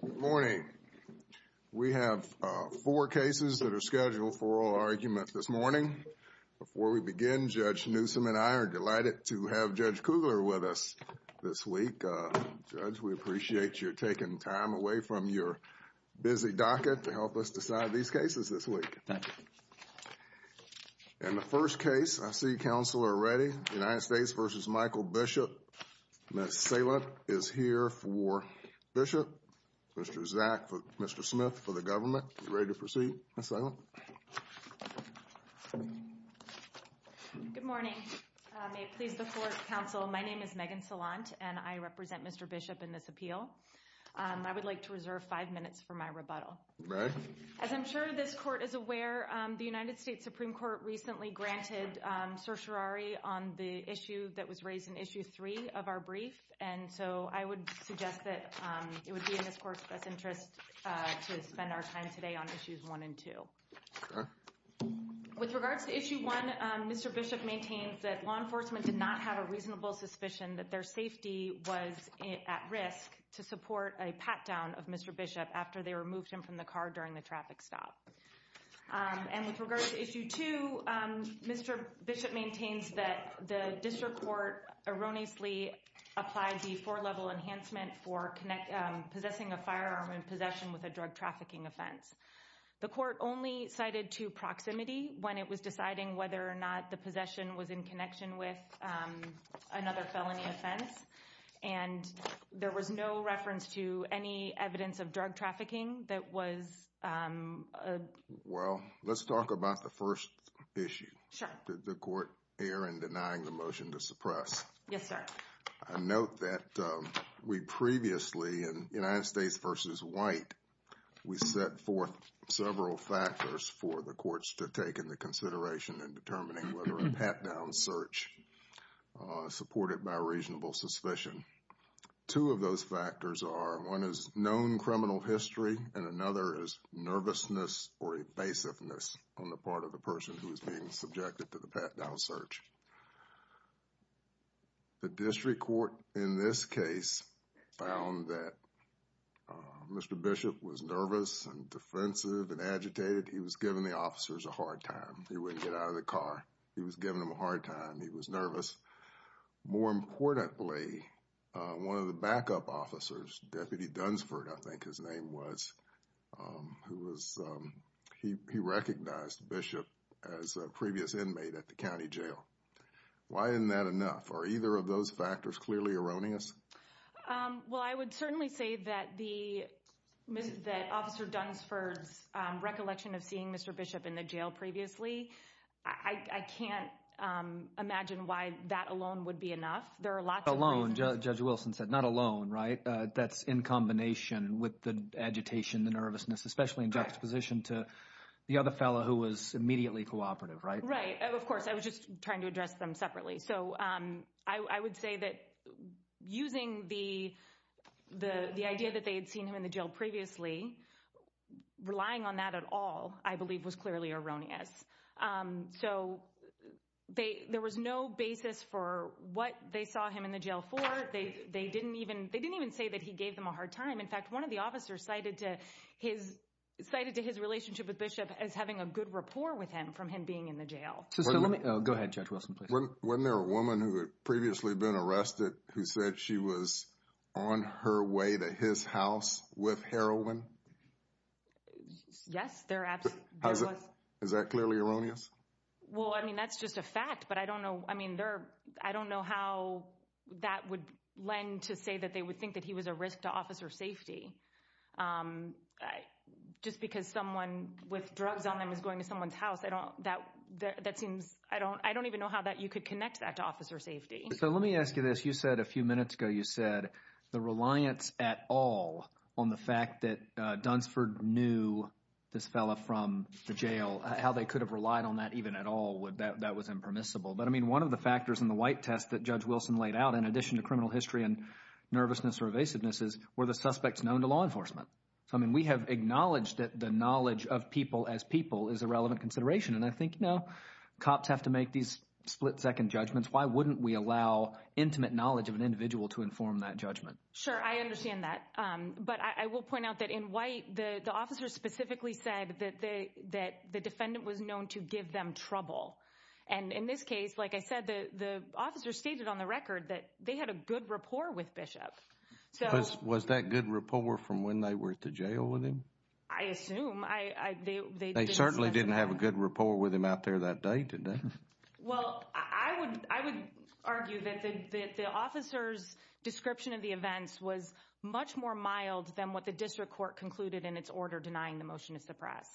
Good morning. We have four cases that are scheduled for oral argument this morning. Before we begin, Judge Newsom and I are delighted to have Judge Kugler with us this week. Judge, we appreciate you taking time away from your busy docket to help us decide these cases this week. Thank you. In the first case, I see counsel are ready. United States v. Michael Bishop. Ms. Salant is here for Bishop. Mr. Zack, Mr. Smith for the government. You ready to proceed, Ms. Salant? Good morning. May it please the court, counsel, my name is Megan Salant and I represent Mr. Bishop in this appeal. I would like to reserve five minutes for my rebuttal. As I'm sure this court is aware, the United States Supreme Court recently granted certiorari on the issue that was raised in Issue 3 of our brief. And so I would suggest that it would be in this court's best interest to spend our time today on Issues 1 and 2. With regards to Issue 1, Mr. Bishop maintains that law enforcement did not have a reasonable suspicion that their safety was at risk to support a pat-down of Mr. Bishop after they removed him from the car during the traffic stop. And with regards to Issue 2, Mr. Bishop maintains that the district court erroneously applied the four-level enhancement for possessing a firearm in possession with a drug trafficking offense. The court only cited to proximity when it was deciding whether or not the possession was in connection with another felony offense. And there was no reference to any evidence of drug trafficking that was... Well, let's talk about the first issue. Sure. The court error in denying the motion to suppress. Yes, sir. I note that we previously, in United States v. White, we set forth several factors for the courts to take into consideration in determining whether a pat-down search supported by reasonable suspicion. Two of those factors are one is known criminal history and another is nervousness or evasiveness on the part of the person who is being subjected to the pat-down search. The district court in this case found that Mr. Bishop was nervous and defensive and agitated. He was giving the officers a hard time. He wouldn't get out of the car. He was giving them a hard time. He was nervous. More importantly, one of the backup officers, Deputy Dunsford, I think his name was, who was, he recognized Bishop as a previous inmate at the county jail. Why isn't that enough? Are either of those factors clearly erroneous? Well, I would certainly say that Officer Dunsford's recollection of seeing Mr. Bishop in the jail previously, I can't imagine why that alone would be enough. There are lots of reasons. Alone, Judge Wilson said. Not alone, right? That's in combination with the agitation, the nervousness, especially in juxtaposition to the other fellow who was immediately cooperative, right? Right. Of course. I was just trying to address them separately. So I would say that using the idea that they had seen him in the jail previously, relying on that at all, I believe was clearly erroneous. So there was no basis for what they saw him in the jail for. They didn't even say that he gave them a hard time. In fact, one of the officers cited to his relationship with Bishop as having a good rapport with him from him being in the jail. Go ahead, Judge Wilson, please. Wasn't there a woman who had previously been arrested who said she was on her way to his house with heroin? Yes, there was. Is that clearly erroneous? Well, I mean, that's just a fact, but I don't know how that would lend to say that they would think that he was a risk to officer safety. Just because someone with drugs on them is going to someone's house, I don't, that seems, I don't even know how you could connect that to officer safety. So let me ask you this. You said a few minutes ago, you said the reliance at all on the fact that Dunsford knew this fellow from the jail, how they could have relied on that even at all, that was impermissible. But I mean, one of the factors in the white test that Judge Wilson laid out, in addition to criminal history and nervousness or evasiveness, is were the suspects known to law enforcement? I mean, we have acknowledged that the knowledge of people as people is a relevant consideration. And I think, you know, cops have to make these split second judgments. Why wouldn't we allow intimate knowledge of an individual to inform that judgment? Sure, I understand that. But I will point out that in white, the officers specifically said that they that the defendant was known to give them trouble. And in this case, like I said, the officer stated on the record that they had a good rapport with Bishop. Was that good rapport from when they were at the jail with him? I assume. They certainly didn't have a good rapport with him out there that day, did they? Well, I would argue that the officer's description of the events was much more mild than what the district court concluded in its order denying the motion to suppress.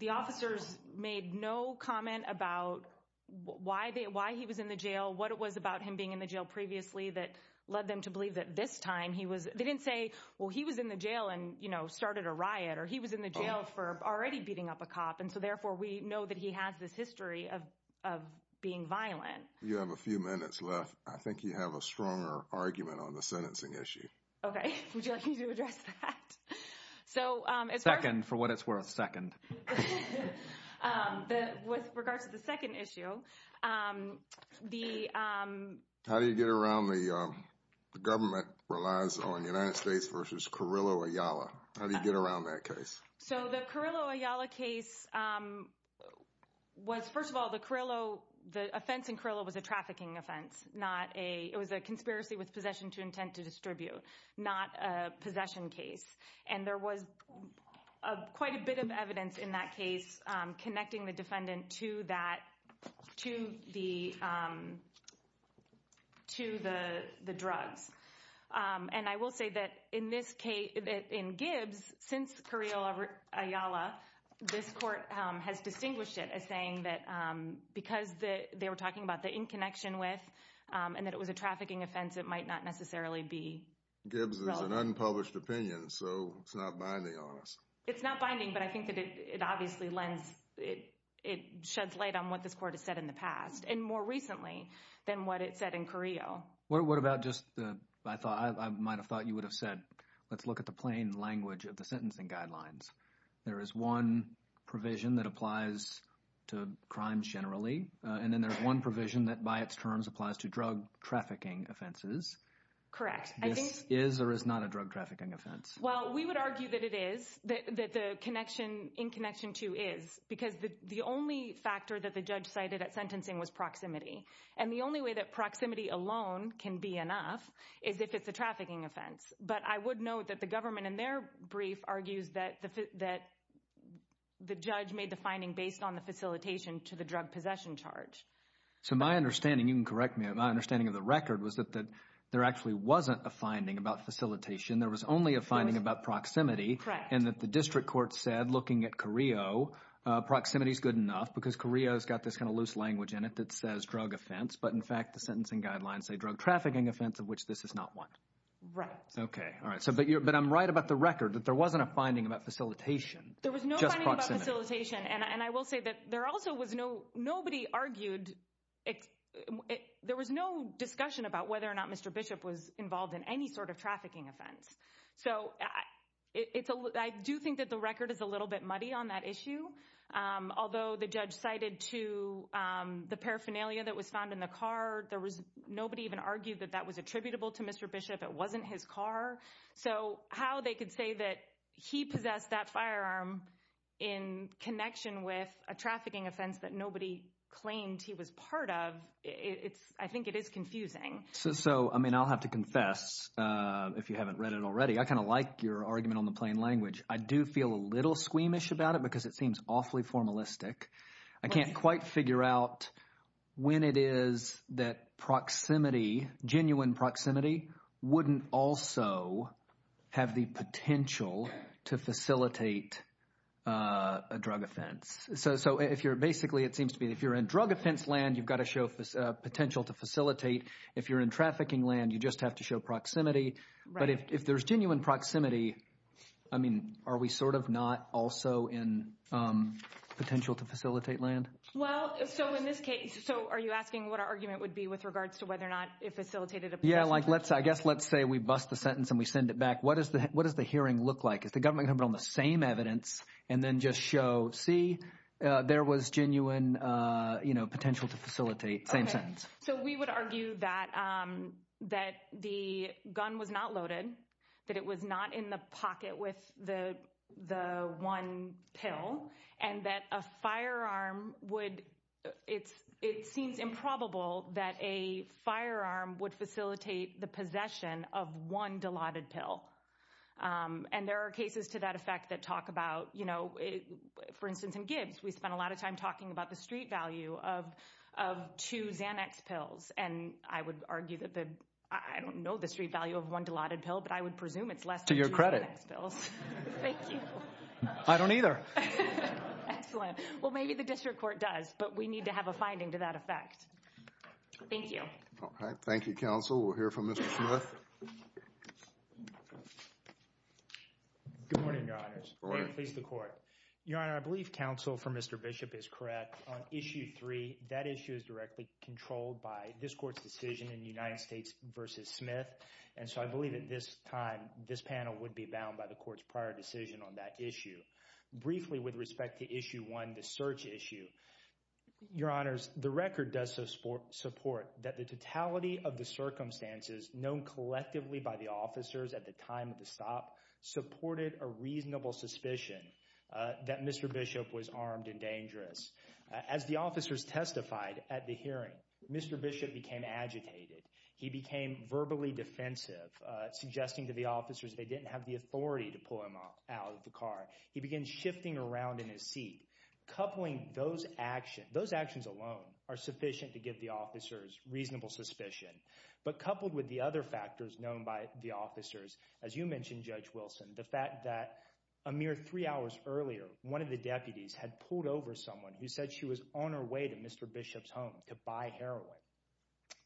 The officers made no comment about why they why he was in the jail, what it was about him being in the jail previously that led them to believe that this time he was. They didn't say, well, he was in the jail and, you know, started a riot or he was in the jail for already beating up a cop. And so therefore, we know that he has this history of of being violent. You have a few minutes left. I think you have a stronger argument on the sentencing issue. OK, would you like me to address that? Second, for what it's worth, second. With regards to the second issue, the. How do you get around the government relies on the United States versus Carrillo Ayala? How do you get around that case? So the Carrillo Ayala case was, first of all, the Carrillo, the offense in Carrillo was a trafficking offense, not a. It was a conspiracy with possession to intent to distribute, not a possession case. And there was quite a bit of evidence in that case connecting the defendant to that, to the. To the drugs. And I will say that in this case, in Gibbs, since Carrillo Ayala, this court has distinguished it as saying that because they were talking about the in connection with and that it was a trafficking offense, it might not necessarily be an unpublished opinion. So it's not binding on us. It's not binding, but I think that it obviously lends it. It sheds light on what this court has said in the past and more recently than what it said in Carrillo. What about just the I thought I might have thought you would have said, let's look at the plain language of the sentencing guidelines. There is one provision that applies to crime generally, and then there's one provision that by its terms applies to drug trafficking offenses. Correct. This is or is not a drug trafficking offense. Well, we would argue that it is that the connection in connection to is because the only factor that the judge cited at sentencing was proximity. And the only way that proximity alone can be enough is if it's a trafficking offense. But I would note that the government in their brief argues that that the judge made the finding based on the facilitation to the drug possession charge. So my understanding, you can correct me. My understanding of the record was that there actually wasn't a finding about facilitation. There was only a finding about proximity. And that the district court said, looking at Carrillo, proximity is good enough because Korea has got this kind of loose language in it that says drug offense. But in fact, the sentencing guidelines say drug trafficking offense, of which this is not one. Right. OK. All right. So but you're but I'm right about the record that there wasn't a finding about facilitation. There was no facilitation. And I will say that there also was no nobody argued it. There was no discussion about whether or not Mr. Bishop was involved in any sort of trafficking offense. So it's I do think that the record is a little bit muddy on that issue. Although the judge cited to the paraphernalia that was found in the car, there was nobody even argued that that was attributable to Mr. Bishop. It wasn't his car. So how they could say that he possessed that firearm in connection with a trafficking offense that nobody claimed he was part of. It's I think it is confusing. So I mean, I'll have to confess if you haven't read it already. I kind of like your argument on the plain language. I do feel a little squeamish about it because it seems awfully formalistic. I can't quite figure out when it is that proximity, genuine proximity, wouldn't also have the potential to facilitate a drug offense. So if you're basically it seems to be if you're in drug offense land, you've got to show potential to facilitate. If you're in trafficking land, you just have to show proximity. But if there's genuine proximity, I mean, are we sort of not also in potential to facilitate land? Well, so in this case, so are you asking what our argument would be with regards to whether or not it facilitated? Yeah, like let's I guess let's say we bust the sentence and we send it back. What is the what does the hearing look like? Is the government on the same evidence and then just show, see, there was genuine potential to facilitate same sentence. So we would argue that that the gun was not loaded, that it was not in the pocket with the the one pill and that a firearm would. It's it seems improbable that a firearm would facilitate the possession of one delighted pill. And there are cases to that effect that talk about, you know, for instance, in Gibbs, we spent a lot of time talking about the street value of of two Xanax pills. And I would argue that the I don't know the street value of one delighted pill, but I would presume it's less to your credit bills. Thank you. I don't either. Excellent. Well, maybe the district court does, but we need to have a finding to that effect. Thank you. All right. Thank you, counsel. We'll hear from Mr. Smith. Good morning, Your Honors. Please, the court. Your Honor, I believe counsel for Mr. Bishop is correct on issue three. That issue is directly controlled by this court's decision in the United States versus Smith. And so I believe at this time this panel would be bound by the court's prior decision on that issue. Briefly, with respect to issue one, the search issue, Your Honors, the record does support support that the totality of the circumstances known collectively by the officers at the time of the stop supported a reasonable suspicion that Mr. Bishop was armed and dangerous. As the officers testified at the hearing, Mr. Bishop became agitated. He became verbally defensive, suggesting to the officers they didn't have the authority to pull him out of the car. He began shifting around in his seat, coupling those actions. Those actions alone are sufficient to give the officers reasonable suspicion. But coupled with the other factors known by the officers, as you mentioned, Judge Wilson, the fact that a mere three hours earlier, one of the deputies had pulled over someone who said she was on her way to Mr. Bishop's home to buy heroin.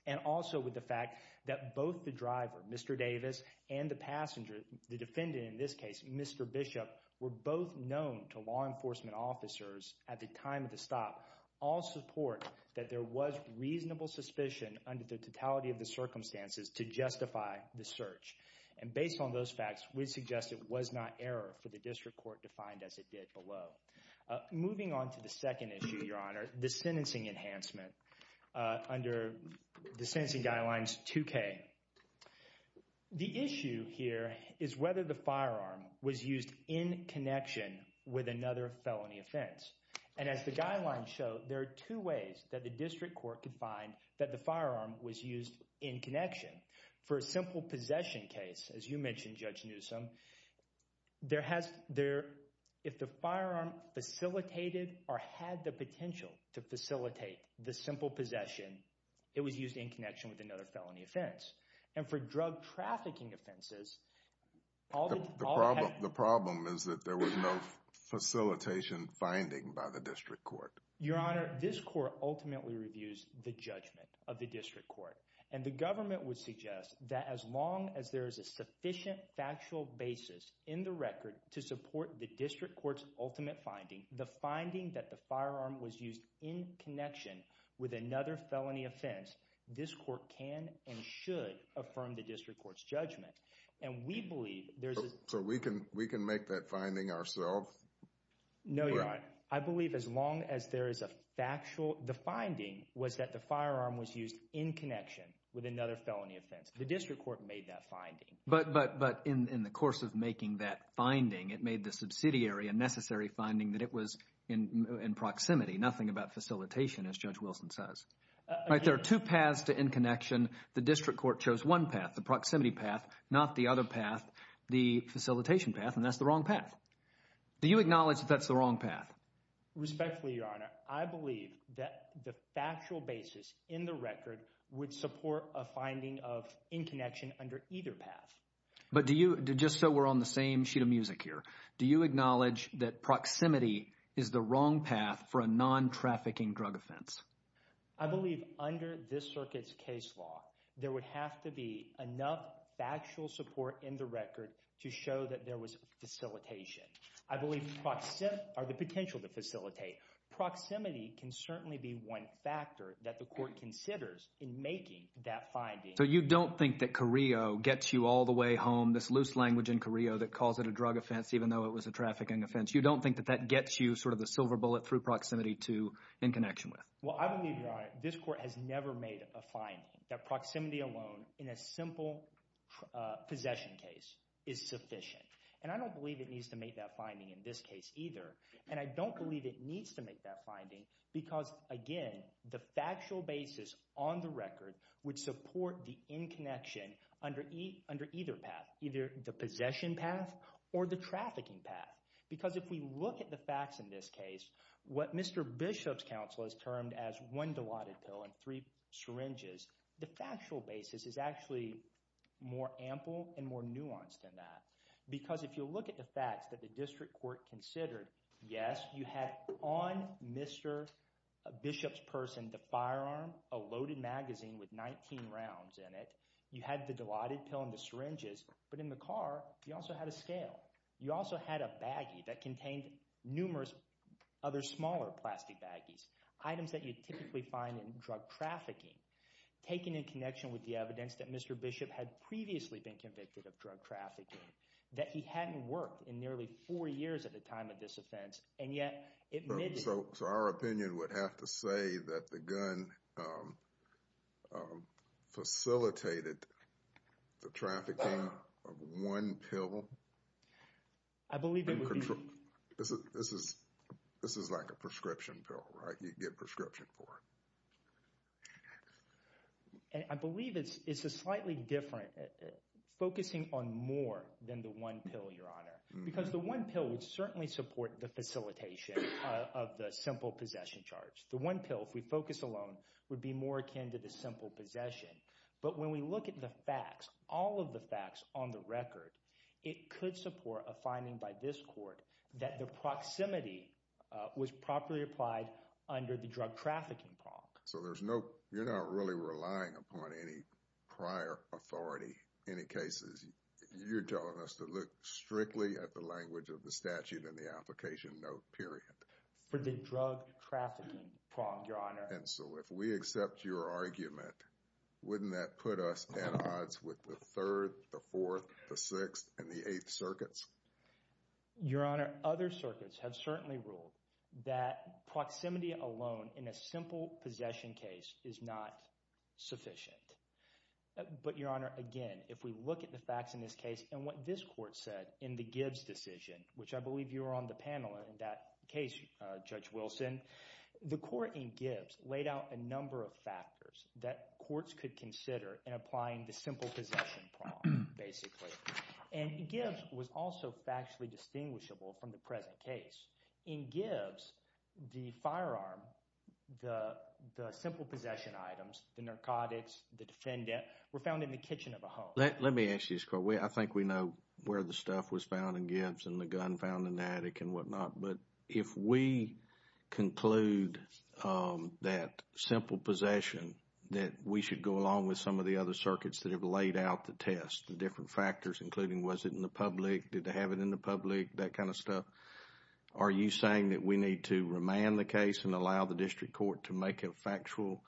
And also with the fact that both the driver, Mr. Davis, and the passenger, the defendant in this case, Mr. Bishop, were both known to law enforcement officers at the time of the stop. All support that there was reasonable suspicion under the totality of the circumstances to justify the search. And based on those facts, we suggest it was not error for the district court to find as it did below. Moving on to the second issue, Your Honor, the sentencing enhancement under the sentencing guidelines 2K. The issue here is whether the firearm was used in connection with another felony offense. And as the guidelines show, there are two ways that the district court could find that the firearm was used in connection. For a simple possession case, as you mentioned, Judge Newsome, there has – if the firearm facilitated or had the potential to facilitate the simple possession, it was used in connection with another felony offense. And for drug trafficking offenses – The problem is that there was no facilitation finding by the district court. Your Honor, this court ultimately reviews the judgment of the district court. And the government would suggest that as long as there is a sufficient factual basis in the record to support the district court's ultimate finding, the finding that the firearm was used in connection with another felony offense, this court can and should affirm the district court's judgment. And we believe there's – So we can make that finding ourselves? No, Your Honor. I believe as long as there is a factual – the finding was that the firearm was used in connection with another felony offense. The district court made that finding. But in the course of making that finding, it made the subsidiary a necessary finding that it was in proximity, nothing about facilitation, as Judge Wilson says. There are two paths to in connection. The district court chose one path, the proximity path, not the other path, the facilitation path, and that's the wrong path. Do you acknowledge that that's the wrong path? Respectfully, Your Honor, I believe that the factual basis in the record would support a finding of in connection under either path. But do you – just so we're on the same sheet of music here, do you acknowledge that proximity is the wrong path for a non-trafficking drug offense? I believe under this circuit's case law, there would have to be enough factual support in the record to show that there was facilitation. I believe – or the potential to facilitate. Proximity can certainly be one factor that the court considers in making that finding. So you don't think that Carrillo gets you all the way home, this loose language in Carrillo that calls it a drug offense even though it was a trafficking offense. You don't think that that gets you sort of the silver bullet through proximity to in connection with? Well, I believe, Your Honor, this court has never made a finding that proximity alone in a simple possession case is sufficient. And I don't believe it needs to make that finding in this case either. And I don't believe it needs to make that finding because, again, the factual basis on the record would support the in connection under either path, either the possession path or the trafficking path. Because if we look at the facts in this case, what Mr. Bishop's counsel has termed as one dilaudid pill and three syringes, the factual basis is actually more ample and more nuanced than that. Because if you look at the facts that the district court considered, yes, you had on Mr. Bishop's person the firearm, a loaded magazine with 19 rounds in it. You had the dilaudid pill and the syringes, but in the car, you also had a scale. You also had a baggie that contained numerous other smaller plastic baggies, items that you typically find in drug trafficking, taken in connection with the evidence that Mr. Bishop had previously been convicted of drug trafficking, that he hadn't worked in nearly four years at the time of this offense. So our opinion would have to say that the gun facilitated the trafficking of one pill? I believe it would be... This is like a prescription pill, right? You get prescription for it. I believe it's a slightly different – focusing on more than the one pill, Your Honor. Because the one pill would certainly support the facilitation of the simple possession charge. The one pill, if we focus alone, would be more akin to the simple possession. But when we look at the facts, all of the facts on the record, it could support a finding by this court that the proximity was properly applied under the drug trafficking prompt. So there's no – you're not really relying upon any prior authority, any cases. You're telling us to look strictly at the language of the statute and the application note, period. For the drug trafficking prompt, Your Honor. And so if we accept your argument, wouldn't that put us at odds with the Third, the Fourth, the Sixth, and the Eighth Circuits? Your Honor, other circuits have certainly ruled that proximity alone in a simple possession case is not sufficient. But, Your Honor, again, if we look at the facts in this case and what this court said in the Gibbs decision, which I believe you were on the panel in that case, Judge Wilson. The court in Gibbs laid out a number of factors that courts could consider in applying the simple possession prompt basically. And Gibbs was also factually distinguishable from the present case. In Gibbs, the firearm, the simple possession items, the narcotics, the defendant, were found in the kitchen of a home. Let me ask you this, Court. I think we know where the stuff was found in Gibbs and the gun found in the attic and whatnot. But if we conclude that simple possession, that we should go along with some of the other circuits that have laid out the test, the different factors, including was it in the public? Did they have it in the public? That kind of stuff. Are you saying that we need to remand the case and allow the district court to make a factual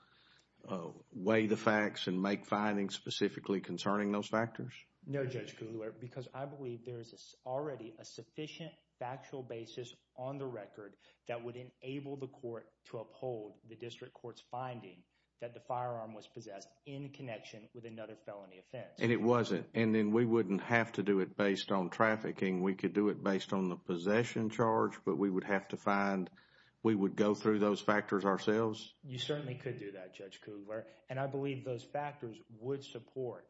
way the facts and make findings specifically concerning those factors? No, Judge Kugler, because I believe there is already a sufficient factual basis on the record that would enable the court to uphold the district court's finding that the firearm was possessed in connection with another felony offense. And it wasn't. And then we wouldn't have to do it based on trafficking. We could do it based on the possession charge, but we would have to find – we would go through those factors ourselves? You certainly could do that, Judge Kugler. And I believe those factors would support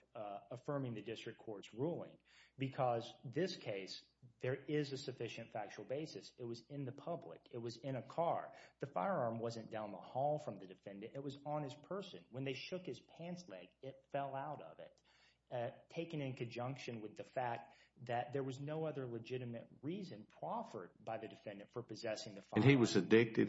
affirming the district court's ruling because this case, there is a sufficient factual basis. It was in the public. It was in a car. The firearm wasn't down the hall from the defendant. It was on his person. When they shook his pants leg, it fell out of it, taken in conjunction with the fact that there was no other legitimate reason proffered by the defendant for possessing the firearm.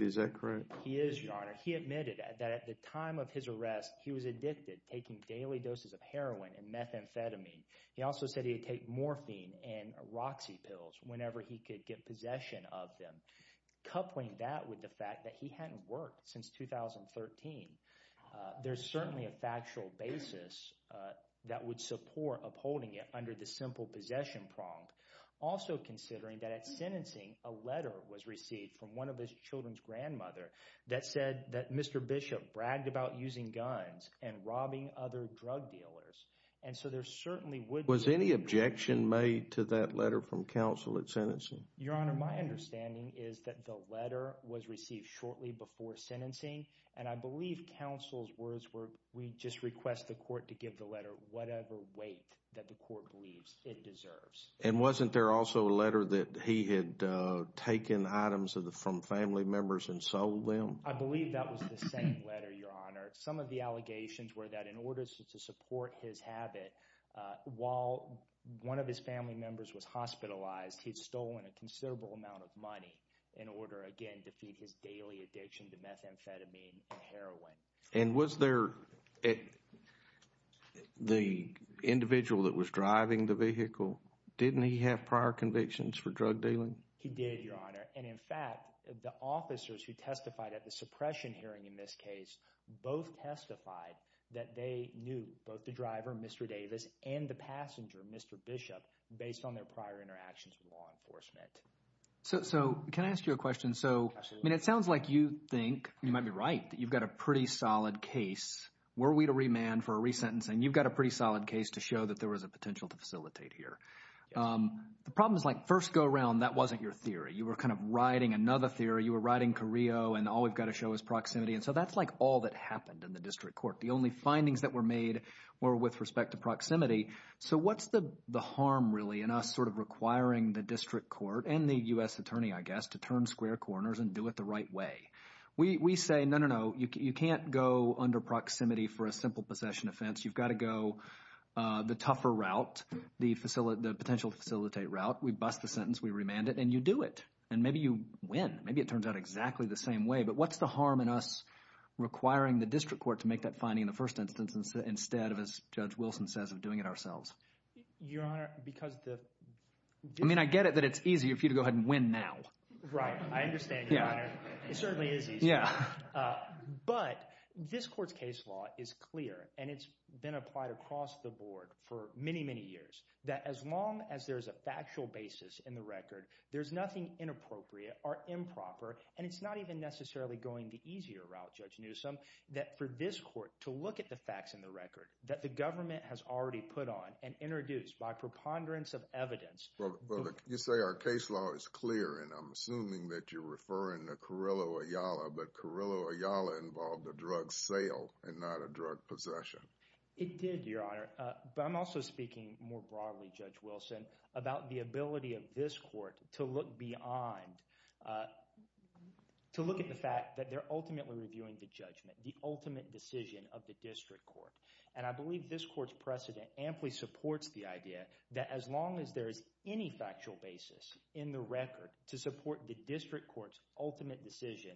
Is that correct? He is, Your Honor. He admitted that at the time of his arrest, he was addicted, taking daily doses of heroin and methamphetamine. He also said he would take morphine and Roxy pills whenever he could get possession of them. Coupling that with the fact that he hadn't worked since 2013, there's certainly a factual basis that would support upholding it under the simple possession prompt. Also considering that at sentencing, a letter was received from one of his children's grandmother that said that Mr. Bishop bragged about using guns and robbing other drug dealers. And so there certainly would be— Was any objection made to that letter from counsel at sentencing? Your Honor, my understanding is that the letter was received shortly before sentencing. And I believe counsel's words were, we just request the court to give the letter whatever weight that the court believes it deserves. And wasn't there also a letter that he had taken items from family members and sold them? I believe that was the same letter, Your Honor. Some of the allegations were that in order to support his habit, while one of his family members was hospitalized, he'd stolen a considerable amount of money in order, again, to feed his daily addiction to methamphetamine and heroin. And was there—the individual that was driving the vehicle, didn't he have prior convictions for drug dealing? He did, Your Honor. And in fact, the officers who testified at the suppression hearing in this case both testified that they knew both the driver, Mr. Davis, and the passenger, Mr. Bishop, based on their prior interactions with law enforcement. So can I ask you a question? Absolutely. I mean, it sounds like you think, you might be right, that you've got a pretty solid case. Were we to remand for a resentencing, you've got a pretty solid case to show that there was a potential to facilitate here. The problem is, like, first go around, that wasn't your theory. You were kind of riding another theory. You were riding Carrillo, and all we've got to show is proximity. And so that's, like, all that happened in the district court. The only findings that were made were with respect to proximity. So what's the harm, really, in us sort of requiring the district court and the U.S. attorney, I guess, to turn square corners and do it the right way? We say, no, no, no, you can't go under proximity for a simple possession offense. You've got to go the tougher route, the potential to facilitate route. We bust the sentence. We remand it. And you do it. And maybe you win. Maybe it turns out exactly the same way. But what's the harm in us requiring the district court to make that finding in the first instance instead of, as Judge Wilson says, of doing it ourselves? Your Honor, because the – I mean I get it that it's easier for you to go ahead and win now. Right. I understand, Your Honor. It certainly is easier. Yeah. But this court's case law is clear, and it's been applied across the board for many, many years, that as long as there's a factual basis in the record, there's nothing inappropriate or improper. And it's not even necessarily going the easier route, Judge Newsom, that for this court to look at the facts in the record that the government has already put on and introduced by preponderance of evidence. Well, you say our case law is clear, and I'm assuming that you're referring to Carrillo Ayala, but Carrillo Ayala involved a drug sale and not a drug possession. It did, Your Honor. But I'm also speaking more broadly, Judge Wilson, about the ability of this court to look beyond – to look at the fact that they're ultimately reviewing the judgment, the ultimate decision of the district court. And I believe this court's precedent amply supports the idea that as long as there is any factual basis in the record to support the district court's ultimate decision,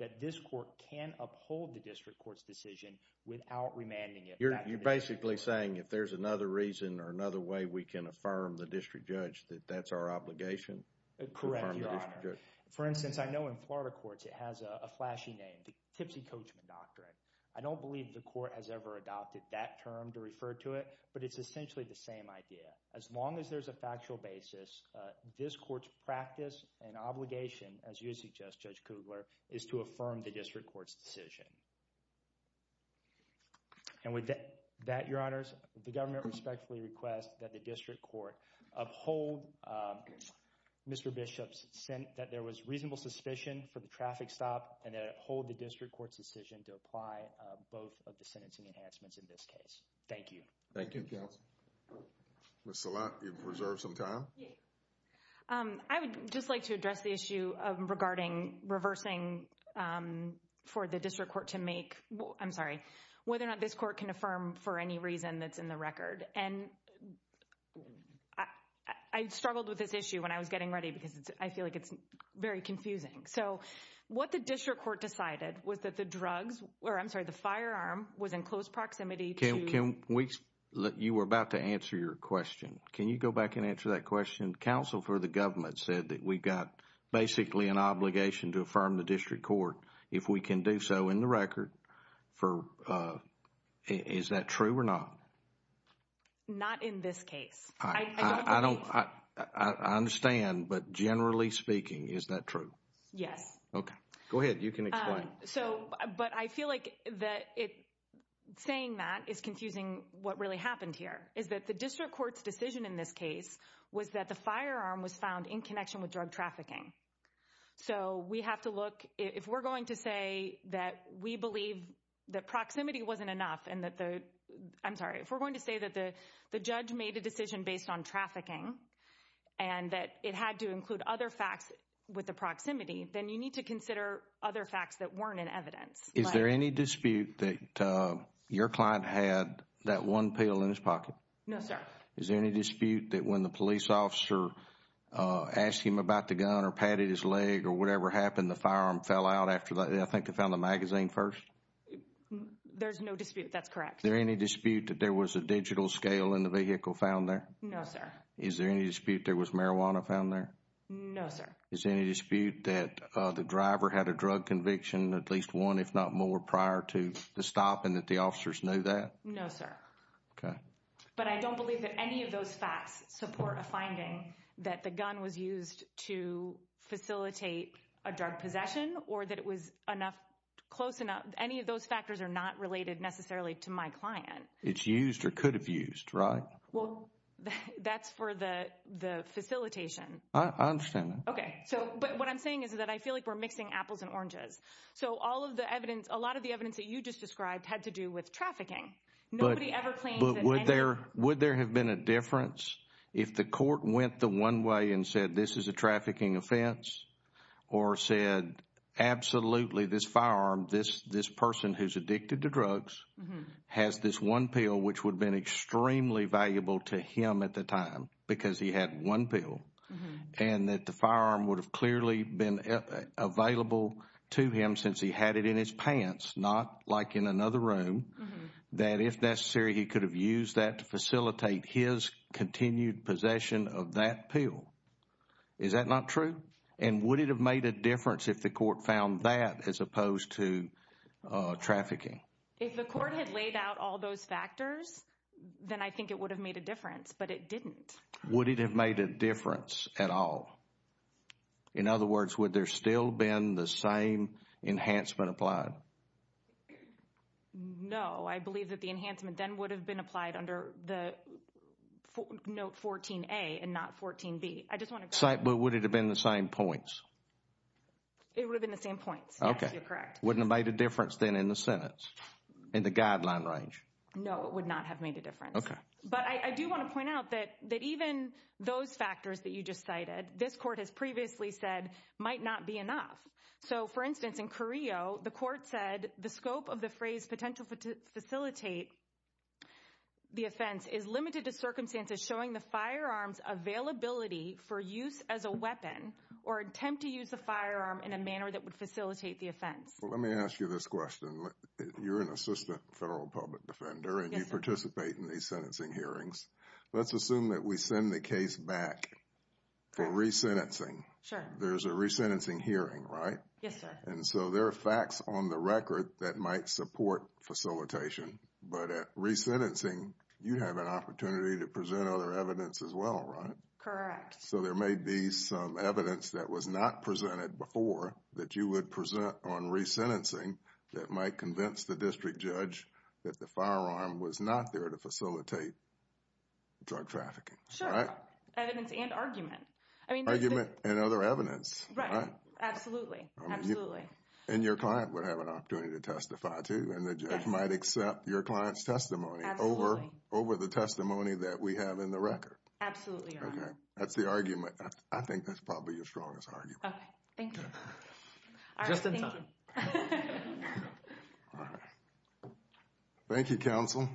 that this court can uphold the district court's decision without remanding it. You're basically saying if there's another reason or another way we can affirm the district judge that that's our obligation? Correct, Your Honor. For instance, I know in Florida courts it has a flashy name, the Tipsy Coachman Doctrine. I don't believe the court has ever adopted that term to refer to it, but it's essentially the same idea. As long as there's a factual basis, this court's practice and obligation, as you suggest, Judge Kugler, is to affirm the district court's decision. And with that, Your Honors, the government respectfully requests that the district court uphold Mr. Bishop's – that there was reasonable suspicion for the traffic stop and that it uphold the district court's decision to apply both of the sentencing enhancements in this case. Thank you. Thank you, counsel. Ms. Salat, you have reserved some time. I would just like to address the issue regarding reversing for the district court to make – I'm sorry, whether or not this court can affirm for any reason that's in the record. And I struggled with this issue when I was getting ready because I feel like it's very confusing. So what the district court decided was that the drugs – or I'm sorry, the firearm was in close proximity to – Can we – you were about to answer your question. Can you go back and answer that question? Counsel for the government said that we've got basically an obligation to affirm the district court if we can do so in the record for – is that true or not? Not in this case. I don't – I understand, but generally speaking, is that true? Yes. Okay. Go ahead. You can explain. So – but I feel like that it – saying that is confusing what really happened here is that the district court's decision in this case was that the firearm was found in connection with drug trafficking. So we have to look – if we're going to say that we believe that proximity wasn't enough and that the – I'm sorry. If we're going to say that the judge made a decision based on trafficking and that it had to include other facts with the proximity, then you need to consider other facts that weren't in evidence. Is there any dispute that your client had that one pill in his pocket? No, sir. Is there any dispute that when the police officer asked him about the gun or patted his leg or whatever happened, the firearm fell out after – I think they found the magazine first? There's no dispute. That's correct. Is there any dispute that there was a digital scale in the vehicle found there? No, sir. Is there any dispute there was marijuana found there? No, sir. Is there any dispute that the driver had a drug conviction, at least one if not more, prior to the stop and that the officers knew that? No, sir. Okay. But I don't believe that any of those facts support a finding that the gun was used to facilitate a drug possession or that it was close enough – any of those factors are not related necessarily to my client. It's used or could have used, right? Well, that's for the facilitation. I understand that. Okay. But what I'm saying is that I feel like we're mixing apples and oranges. So all of the evidence – a lot of the evidence that you just described had to do with trafficking. Nobody ever claims that any – But would there have been a difference if the court went the one way and said this is a trafficking offense or said absolutely this firearm, this person who's addicted to drugs has this one pill which would have been extremely valuable to him at the time because he had one pill and that the firearm would have clearly been available to him since he had it in his pants, not like in another room, that if necessary he could have used that to facilitate his continued possession of that pill. Is that not true? And would it have made a difference if the court found that as opposed to trafficking? If the court had laid out all those factors, then I think it would have made a difference, but it didn't. Would it have made a difference at all? In other words, would there still have been the same enhancement applied? No, I believe that the enhancement then would have been applied under the note 14A and not 14B. I just want to – But would it have been the same points? It would have been the same points. Okay. Yes, you're correct. Wouldn't it have made a difference then in the sentence, in the guideline range? No, it would not have made a difference. Okay. But I do want to point out that even those factors that you just cited, this court has previously said might not be enough. So, for instance, in Carrillo, the court said the scope of the phrase potential facilitate the offense is limited to circumstances showing the firearm's availability for use as a weapon or attempt to use the firearm in a manner that would facilitate the offense. Let me ask you this question. You're an assistant federal public defender and you participate in these sentencing hearings. Let's assume that we send the case back for resentencing. Sure. There's a resentencing hearing, right? Yes, sir. And so, there are facts on the record that might support facilitation. But at resentencing, you have an opportunity to present other evidence as well, right? Correct. So, there may be some evidence that was not presented before that you would present on resentencing that might convince the district judge that the firearm was not there to facilitate drug trafficking. Sure. Right? Evidence and argument. Argument and other evidence. Right. Absolutely. Absolutely. And your client would have an opportunity to testify too and the judge might accept your client's testimony over the testimony that we have in the record. Absolutely, Your Honor. Okay. That's the argument. I think that's probably your strongest argument. Okay. Just in time. All right. Thank you. All right. Thank you, counsel.